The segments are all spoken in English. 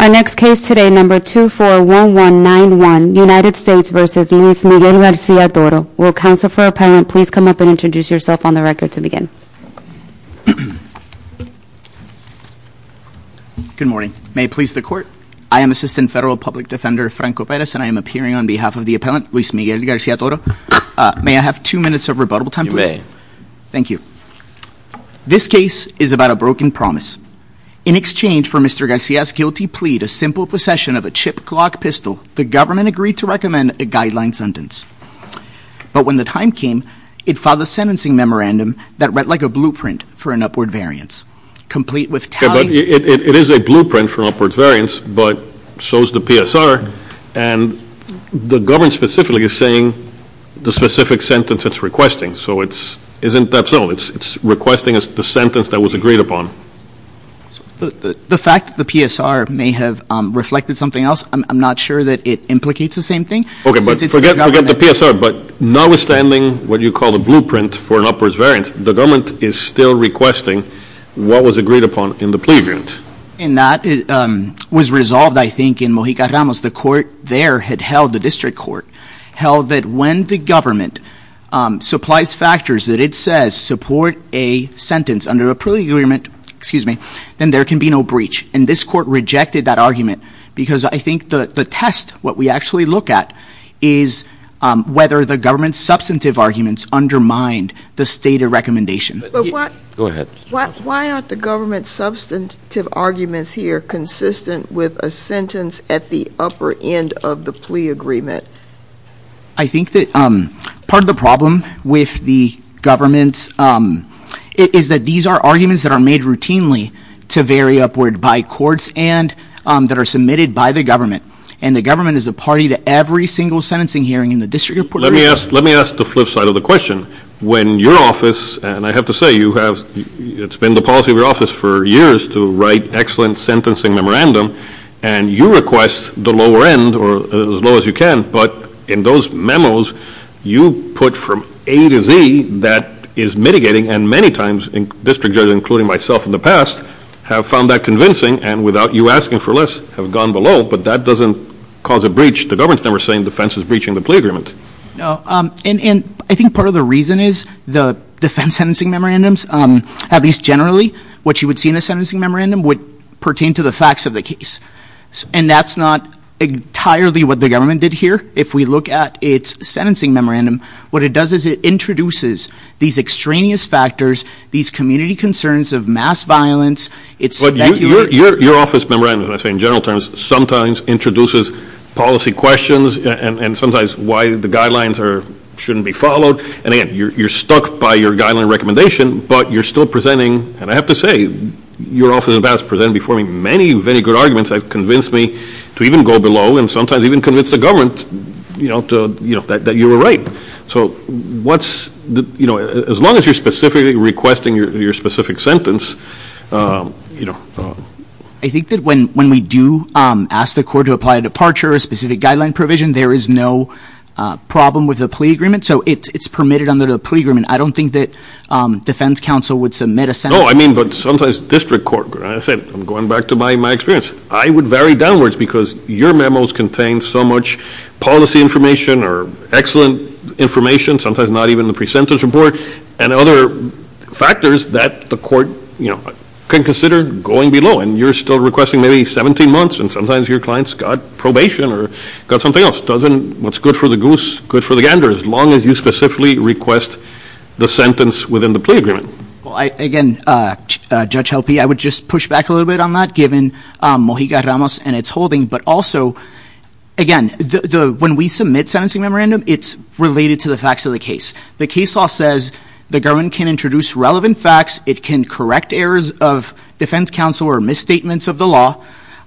Our next case today, number 241191, United States v. Luis Miguel Garcia-Toro. Will counsel for appellant please come up and introduce yourself on the record to begin. Good morning. May it please the court? I am Assistant Federal Public Defender Franco Perez and I am appearing on behalf of the appellant, Luis Miguel Garcia-Toro. May I have two minutes of rebuttable time, please? You may. Thank you. This case is about a broken promise. In exchange for Mr. Garcia's guilty plea to simple possession of a chip clock pistol, the government agreed to recommend a guideline sentence. But when the time came, it filed a sentencing memorandum that read like a blueprint for an upward variance. Complete with tallies- But it is a blueprint for an upward variance, but so is the PSR. And the government specifically is saying the specific sentence it's requesting. So it's, isn't that so? It's requesting the sentence that was agreed upon. The fact that the PSR may have reflected something else, I'm not sure that it implicates the same thing. Forget the PSR, but notwithstanding what you call the blueprint for an upward variance, the government is still requesting what was agreed upon in the plea agreement. And that was resolved, I think, in Mojica Ramos. The court there had held, the district court, held that when the government supplies factors that it says support a sentence under a plea agreement, then there can be no breach. And this court rejected that argument because I think the test, what we actually look at, is whether the government's substantive arguments undermine the stated recommendation. Go ahead. Why aren't the government's substantive arguments here consistent with a sentence at the upper end of the plea agreement? I think that part of the problem with the government is that these are arguments that are made routinely to vary upward by courts and that are submitted by the government. And the government is a party to every single sentencing hearing in the district court- Let me ask the flip side of the question. When your office, and I have to say it's been the policy of your office for years to write excellent sentencing memorandum, and you request the lower end or as low as you can, but in those memos you put from A to Z that is mitigating and many times district judges, including myself in the past, have found that convincing and without you asking for less have gone below, but that doesn't cause a breach. The government's never saying defense is breaching the plea agreement. And I think part of the reason is the defense sentencing memorandums, at least generally, what you would see in a sentencing memorandum would pertain to the facts of the case. And that's not entirely what the government did here. If we look at its sentencing memorandum, what it does is it introduces these extraneous factors, these community concerns of mass violence. Your office memorandum, as I say in general terms, sometimes introduces policy questions and sometimes why the guidelines shouldn't be followed. And again, you're stuck by your guideline recommendation, but you're still presenting, and I have to say your office has presented before me many very good arguments that have convinced me to even go below and sometimes even convince the government that you were right. So what's, you know, as long as you're specifically requesting your specific sentence, you know. I think that when we do ask the court to apply a departure or a specific guideline provision, there is no problem with the plea agreement. So it's permitted under the plea agreement. I don't think that defense counsel would submit a sentence. No, I mean, but sometimes district court, as I said, I'm going back to my experience. I would vary downwards because your memos contain so much policy information or excellent information, sometimes not even the pre-sentence report, and other factors that the court, you know, can consider going below. And you're still requesting maybe 17 months, and sometimes your client's got probation or got something else. What's good for the goose, good for the gander, as long as you specifically request the sentence within the plea agreement. Well, again, Judge Helpe, I would just push back a little bit on that, given Mojica Ramos and its holding. But also, again, when we submit sentencing memorandum, it's related to the facts of the case. The case law says the government can introduce relevant facts. It can correct errors of defense counsel or misstatements of the law.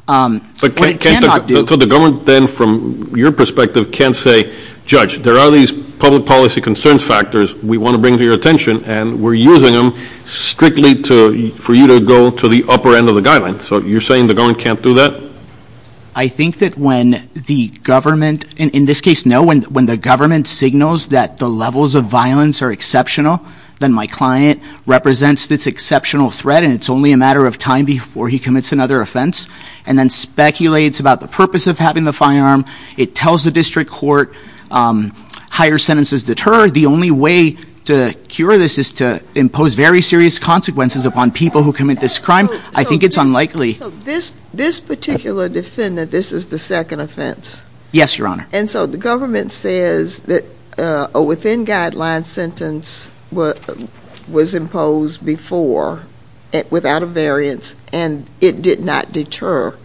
But it cannot do. So the government then, from your perspective, can't say, Judge, there are these public policy concerns factors we want to bring to your attention, and we're using them strictly for you to go to the upper end of the guideline. So you're saying the government can't do that? I think that when the government, in this case, no, when the government signals that the levels of violence are exceptional, then my client represents this exceptional threat, and it's only a matter of time before he commits another offense, and then speculates about the purpose of having the firearm. It tells the district court higher sentences deterred. The only way to cure this is to impose very serious consequences upon people who commit this crime. I think it's unlikely. So this particular defendant, this is the second offense? Yes, Your Honor. And so the government says that a within-guideline sentence was imposed before without a variance, and it did not deter.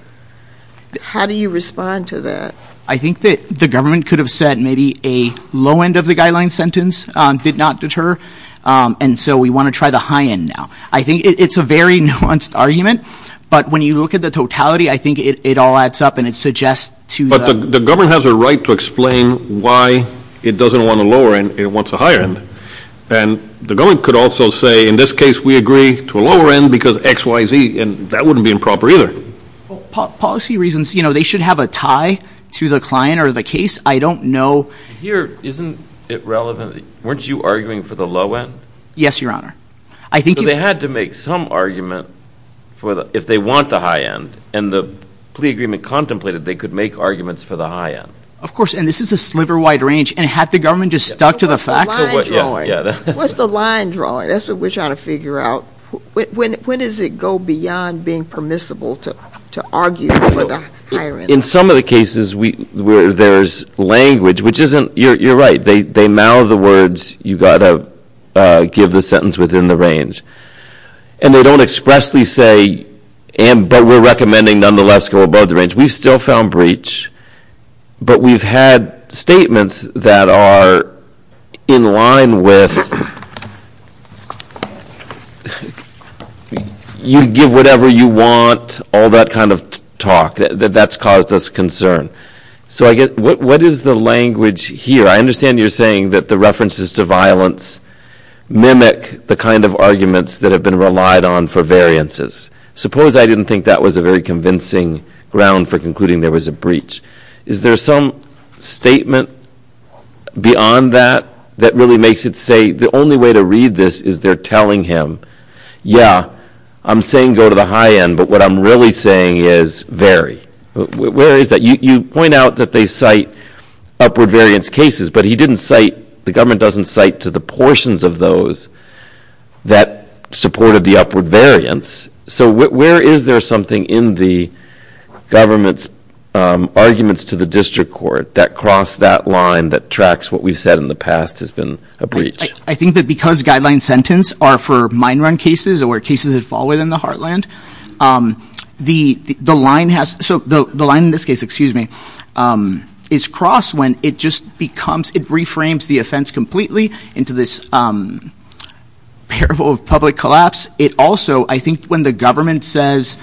How do you respond to that? I think that the government could have said maybe a low end of the guideline sentence did not deter, and so we want to try the high end now. I think it's a very nuanced argument, but when you look at the totality, I think it all adds up, and it suggests to the But the government has a right to explain why it doesn't want a lower end, it wants a higher end. And the government could also say, in this case, we agree to a lower end because X, Y, Z, and that wouldn't be improper either. Policy reasons, you know, they should have a tie to the client or the case. I don't know. Here, isn't it relevant? Weren't you arguing for the low end? Yes, Your Honor. So they had to make some argument if they want the high end, and the plea agreement contemplated they could make arguments for the high end. Of course, and this is a sliver-wide range, and had the government just stuck to the facts? What's the line drawing? That's what we're trying to figure out. When does it go beyond being permissible to argue for the higher end? In some of the cases where there's language, which isn't, you're right, they mouth the words you've got to give the sentence within the range. And they don't expressly say, but we're recommending nonetheless go above the range. We've still found breach, but we've had statements that are in line with you give whatever you want, all that kind of talk. That's caused us concern. So what is the language here? I understand you're saying that the references to violence mimic the kind of arguments that have been relied on for variances. Suppose I didn't think that was a very convincing ground for concluding there was a breach. Is there some statement beyond that that really makes it say the only way to read this is they're telling him, yeah, I'm saying go to the high end, but what I'm really saying is vary. Where is that? You point out that they cite upward variance cases, but he didn't cite, the government doesn't cite to the portions of those that supported the upward variance. So where is there something in the government's arguments to the district court that crossed that line that tracks what we've said in the past has been a breach? I think that because guideline sentence are for mine run cases or cases that fall within the heartland, the line in this case is crossed when it just becomes, it reframes the offense completely into this parable of public collapse. It also, I think when the government says,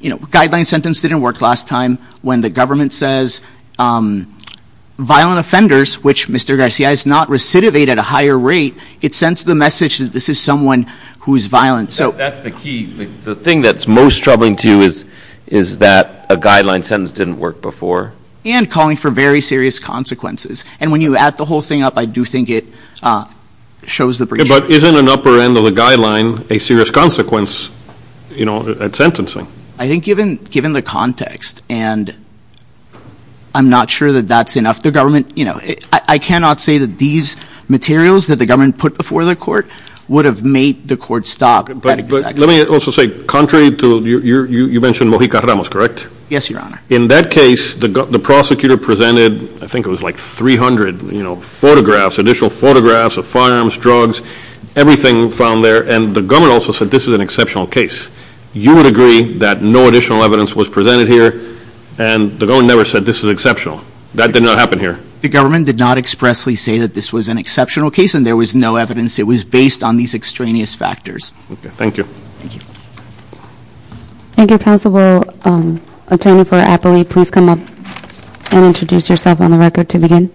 you know, guideline sentence didn't work last time, when the government says violent offenders, which Mr. Garcia is not recidivate at a higher rate, it sends the message that this is someone who is violent. That's the key. The thing that's most troubling to you is that a guideline sentence didn't work before. And calling for very serious consequences. And when you add the whole thing up, I do think it shows the breach. But isn't an upper end of the guideline a serious consequence, you know, at sentencing? I think given the context, and I'm not sure that that's enough. The government, you know, I cannot say that these materials that the government put before the court would have made the court stop. But let me also say, contrary to, you mentioned Mojica Ramos, correct? Yes, Your Honor. In that case, the prosecutor presented, I think it was like 300, you know, photographs, additional photographs of firearms, drugs, everything found there. And the government also said this is an exceptional case. You would agree that no additional evidence was presented here, and the government never said this is exceptional. That did not happen here. The government did not expressly say that this was an exceptional case, and there was no evidence. It was based on these extraneous factors. Thank you. Thank you. Mr. Counsel, will Attorney for Appley please come up and introduce yourself on the record to begin?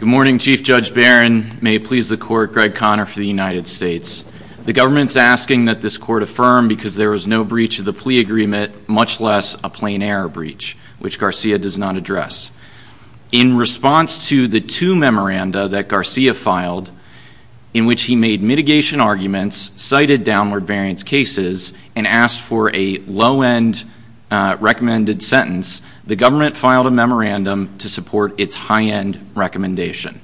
Good morning, Chief Judge Barron. May it please the Court, Greg Conner for the United States. The government's asking that this court affirm because there was no breach of the plea agreement, much less a plain error breach, which Garcia does not address. In response to the two memoranda that Garcia filed, in which he made mitigation arguments, cited downward variance cases, and asked for a low-end recommended sentence, the government filed a memorandum to support its high-end recommendation.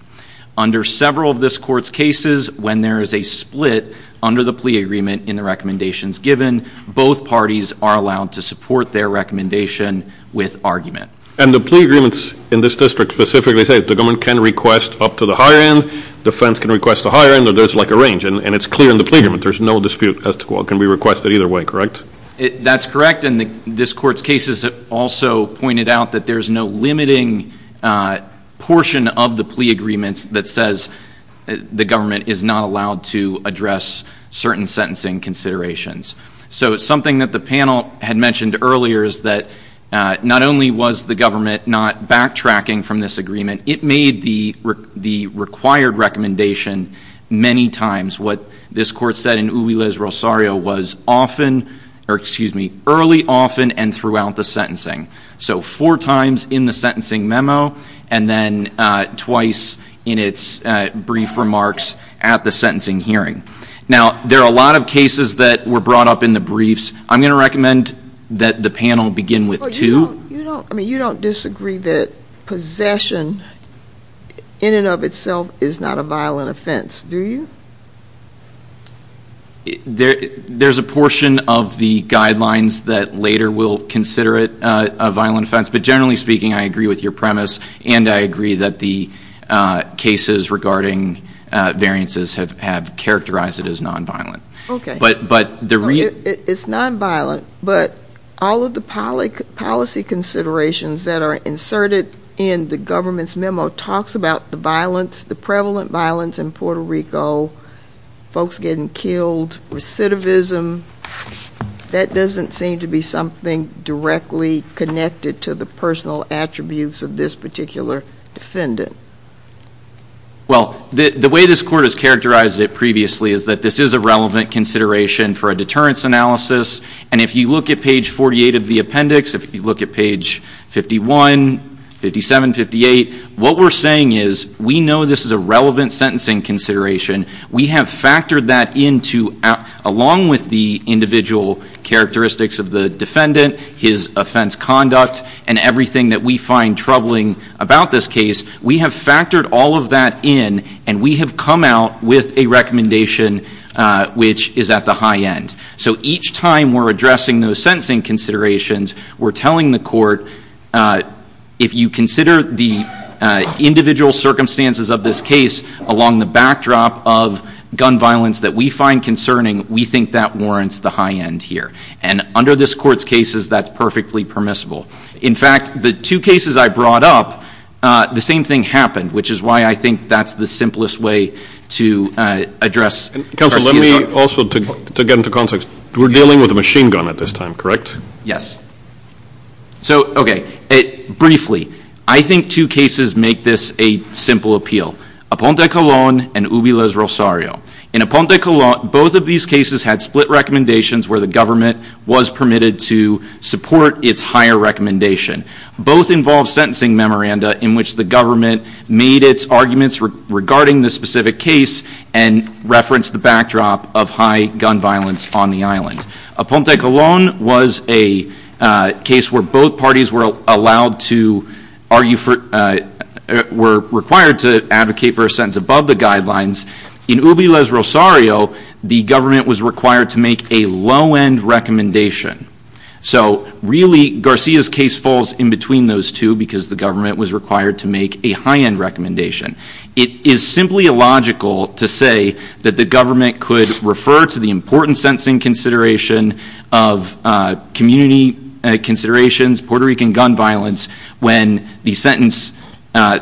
Under several of this court's cases, when there is a split under the plea agreement in the recommendations given, both parties are allowed to support their recommendation with argument. And the plea agreements in this district specifically say the government can request up to the high-end, defense can request the high-end, or there's like a range, and it's clear in the plea agreement. There's no dispute as to what can be requested either way, correct? That's correct. And this court's cases also pointed out that there's no limiting portion of the plea agreements that says the government is not allowed to address certain sentencing considerations. So it's something that the panel had mentioned earlier, is that not only was the government not backtracking from this agreement, it made the required recommendation many times. What this court said in Uyles Rosario was often, or excuse me, early, often, and throughout the sentencing. So four times in the sentencing memo, and then twice in its brief remarks at the sentencing hearing. Now, there are a lot of cases that were brought up in the briefs. I'm going to recommend that the panel begin with two. You don't disagree that possession in and of itself is not a violent offense, do you? There's a portion of the guidelines that later will consider it a violent offense. But generally speaking, I agree with your premise, and I agree that the cases regarding variances have characterized it as nonviolent. It's nonviolent, but all of the policy considerations that are inserted in the government's memo talks about the violence, the prevalent violence in Puerto Rico, folks getting killed, recidivism. That doesn't seem to be something directly connected to the personal attributes of this particular defendant. Well, the way this court has characterized it previously is that this is a relevant consideration for a deterrence analysis. And if you look at page 48 of the appendix, if you look at page 51, 57, 58, what we're saying is we know this is a relevant sentencing consideration. We have factored that into, along with the individual characteristics of the defendant, his offense conduct, and everything that we find troubling about this case, we have factored all of that in, and we have come out with a recommendation which is at the high end. So each time we're addressing those sentencing considerations, we're telling the court, if you consider the individual circumstances of this case along the backdrop of gun violence that we find concerning, we think that warrants the high end here. And under this court's cases, that's perfectly permissible. In fact, the two cases I brought up, the same thing happened, which is why I think that's the simplest way to address Garcia's argument. Counsel, let me also, to get into context, we're dealing with a machine gun at this time, correct? Yes. So, okay, briefly, I think two cases make this a simple appeal. Aponte Colón and Ubiles Rosario. In Aponte Colón, both of these cases had split recommendations where the government was permitted to support its higher recommendation. Both involved sentencing memoranda in which the government made its arguments regarding the specific case and referenced the backdrop of high gun violence on the island. Aponte Colón was a case where both parties were allowed to argue for, were required to advocate for a sentence above the guidelines. In Ubiles Rosario, the government was required to make a low end recommendation. So, really, Garcia's case falls in between those two because the government was required to make a high end recommendation. It is simply illogical to say that the government could refer to the important sentencing consideration of community considerations, Puerto Rican gun violence, when the sentence,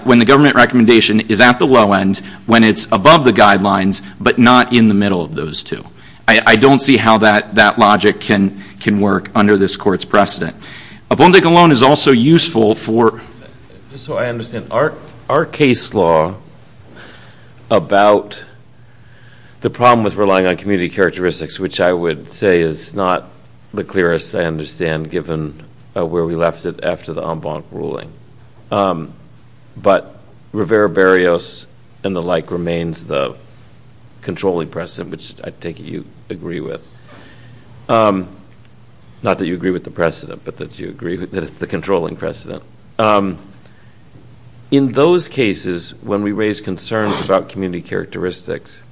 when the government recommendation is at the low end, when it's above the guidelines, but not in the middle of those two. I don't see how that logic can work under this court's precedent. Aponte Colón is also useful for, just so I understand, our case law about the problem with relying on community characteristics, which I would say is not the clearest, I understand, given where we left it after the en banc ruling. But Rivera Barrios and the like remains the controlling precedent, which I take it you agree with. Not that you agree with the precedent, but that you agree that it's the controlling precedent. In those cases, when we raise concerns about community characteristics,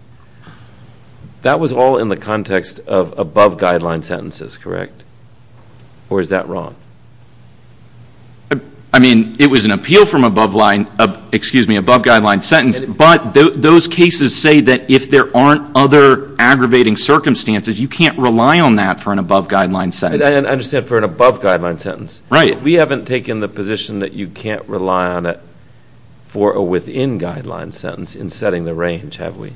that was all in the context of above guideline sentences, correct? Or is that wrong? I mean, it was an appeal from above guideline sentence, but those cases say that if there aren't other aggravating circumstances, you can't rely on that for an above guideline sentence. I understand for an above guideline sentence. Right. We haven't taken the position that you can't rely on it for a within guideline sentence in setting the range, have we?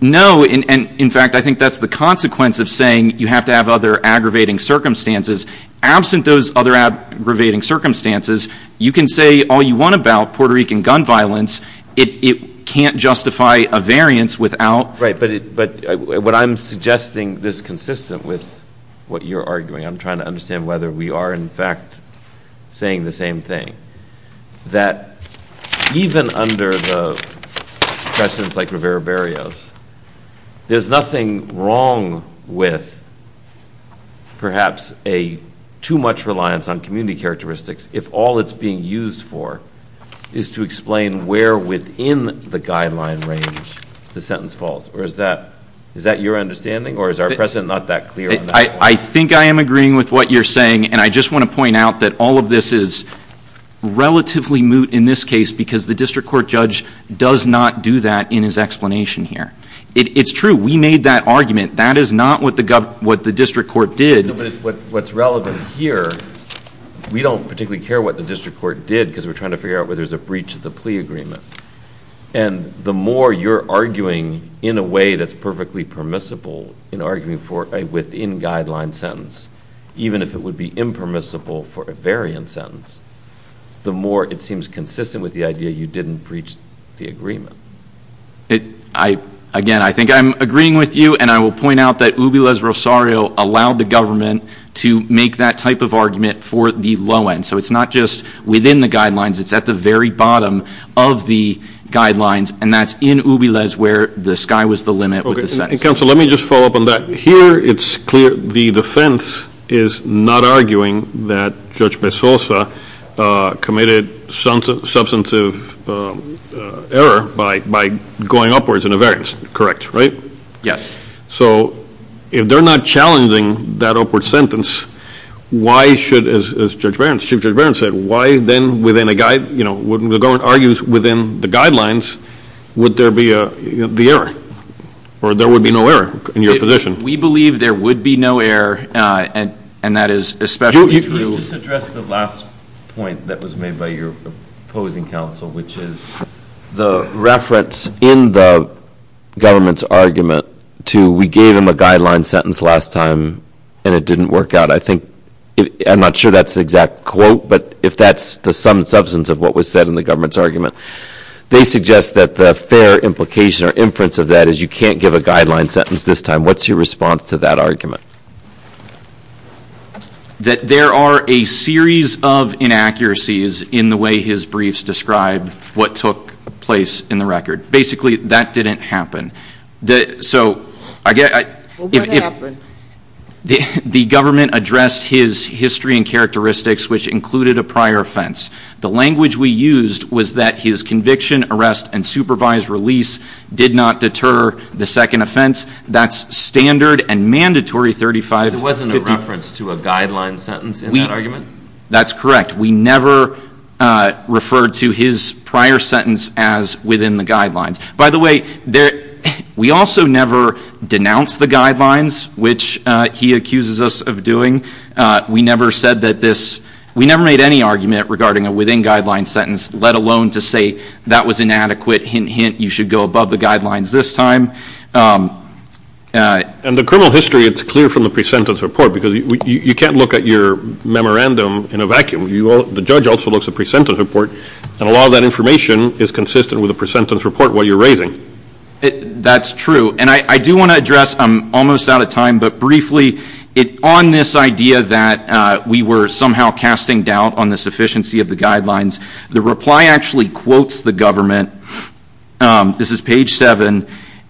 No. In fact, I think that's the consequence of saying you have to have other aggravating circumstances. Absent those other aggravating circumstances, you can say all you want about Puerto Rican gun violence. It can't justify a variance without. Right. But what I'm suggesting is consistent with what you're arguing. I'm trying to understand whether we are, in fact, saying the same thing, that even under the precedents like Rivera Barrios, there's nothing wrong with perhaps too much reliance on community characteristics if all it's being used for is to explain where within the guideline range the sentence falls. Or is that your understanding, or is our precedent not that clear? I think I am agreeing with what you're saying, and I just want to point out that all of this is relatively moot in this case because the district court judge does not do that in his explanation here. It's true. We made that argument. That is not what the district court did. No, but what's relevant here, we don't particularly care what the district court did because we're trying to figure out whether there's a breach of the plea agreement. And the more you're arguing in a way that's perfectly permissible in arguing for a within guideline sentence, even if it would be impermissible for a variant sentence, the more it seems consistent with the idea you didn't breach the agreement. Again, I think I'm agreeing with you, and I will point out that Ubiles Rosario allowed the government to make that type of argument for the low end. So it's not just within the guidelines. It's at the very bottom of the guidelines, and that's in Ubiles where the sky was the limit with the sentence. Counsel, let me just follow up on that. Here it's clear the defense is not arguing that Judge Bezosa committed substantive error by going upwards in a variance. Correct, right? Yes. So if they're not challenging that upward sentence, why should, as Chief Judge Barron said, why then within a guide, you know, when the government argues within the guidelines, would there be the error or there would be no error in your position? We believe there would be no error, and that is especially true. Can you just address the last point that was made by your opposing counsel, which is the reference in the government's argument to we gave him a guideline sentence last time, and it didn't work out. I think I'm not sure that's the exact quote, but if that's the sum and substance of what was said in the government's argument, they suggest that the fair implication or inference of that is you can't give a guideline sentence this time. What's your response to that argument? That there are a series of inaccuracies in the way his briefs describe what took place in the record. Basically, that didn't happen. So I guess if the government addressed his history and characteristics, which included a prior offense, the language we used was that his conviction, arrest, and supervised release did not deter the second offense. That's standard and mandatory 3550. There wasn't a reference to a guideline sentence in that argument? That's correct. We never referred to his prior sentence as within the guidelines. By the way, we also never denounced the guidelines, which he accuses us of doing. We never made any argument regarding a within-guidelines sentence, let alone to say that was inadequate. Hint, hint, you should go above the guidelines this time. And the criminal history, it's clear from the pre-sentence report, because you can't look at your memorandum in a vacuum. The judge also looks at pre-sentence report, and a lot of that information is consistent with the pre-sentence report while you're raising. That's true. And I do want to address, I'm almost out of time, but briefly, on this idea that we were somehow casting doubt on the sufficiency of the guidelines, the reply actually quotes the government, this is page 7,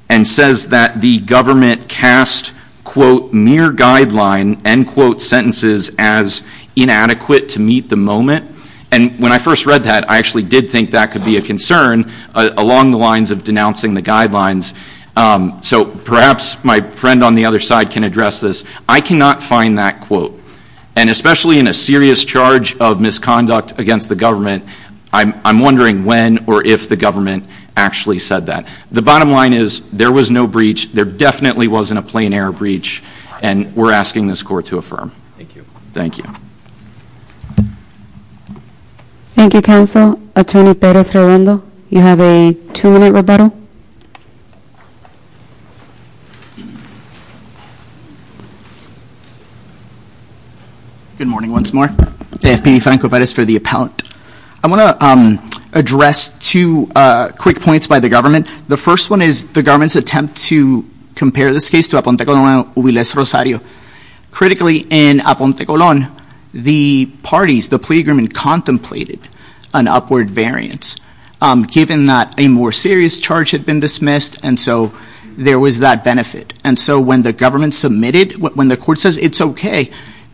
and says that the government cast, quote, mere guideline, end quote, sentences as inadequate to meet the moment. And when I first read that, I actually did think that could be a concern along the lines of denouncing the guidelines. So perhaps my friend on the other side can address this. I cannot find that quote. And especially in a serious charge of misconduct against the government, I'm wondering when or if the government actually said that. The bottom line is, there was no breach. There definitely wasn't a plain error breach, and we're asking this court to affirm. Thank you. Thank you, counsel. Attorney Perez-Redondo, you have a two-minute rebuttal. Good morning once more. Deputy Franco Perez for the appellant. I want to address two quick points by the government. The first one is the government's attempt to compare this case to Aponte Colón and Ubilés Rosario. Critically, in Aponte Colón, the parties, the plea agreement, contemplated an upward variance, given that a more serious charge had been dismissed, and so there was that benefit. And so when the government submitted, when the court says it's okay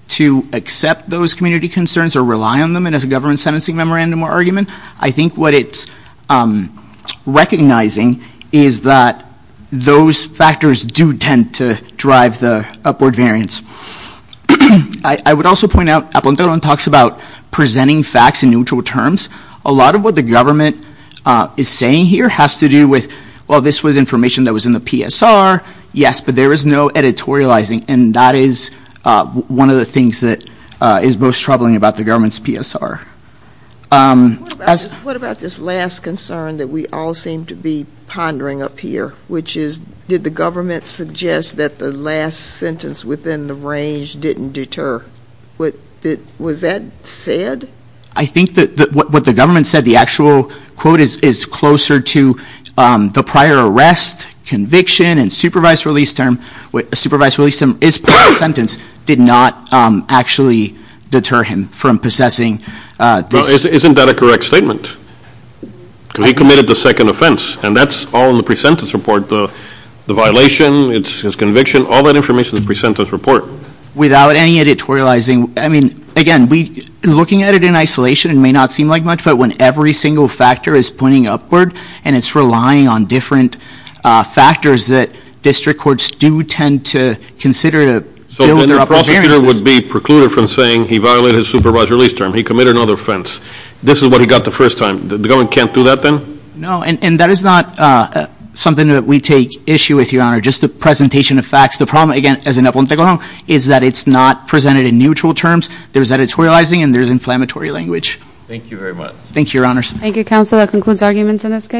to accept those community concerns or rely on them as a government sentencing memorandum or argument, I think what it's recognizing is that those factors do tend to drive the upward variance. I would also point out Aponte Colón talks about presenting facts in neutral terms. A lot of what the government is saying here has to do with, well, this was information that was in the PSR. Yes, but there is no editorializing, and that is one of the things that is most troubling about the government's PSR. What about this last concern that we all seem to be pondering up here, which is did the government suggest that the last sentence within the range didn't deter? Was that said? I think that what the government said, the actual quote is closer to the prior arrest, conviction, and supervised release term is part of the sentence, did not actually deter him from possessing this. Well, isn't that a correct statement? He committed the second offense, and that's all in the pre-sentence report. The violation, his conviction, all that information is in the pre-sentence report. Without any editorializing, I mean, again, looking at it in isolation, it may not seem like much, but when every single factor is pointing upward, and it's relying on different factors that district courts do tend to consider. So then the prosecutor would be precluded from saying he violated his supervised release term. He committed another offense. This is what he got the first time. The government can't do that then? No, and that is not something that we take issue with, Your Honor, just the presentation of facts. The problem, again, is that it's not presented in neutral terms. There's editorializing, and there's inflammatory language. Thank you very much. Thank you, Your Honors. Thank you, Counsel. That concludes arguments in this case.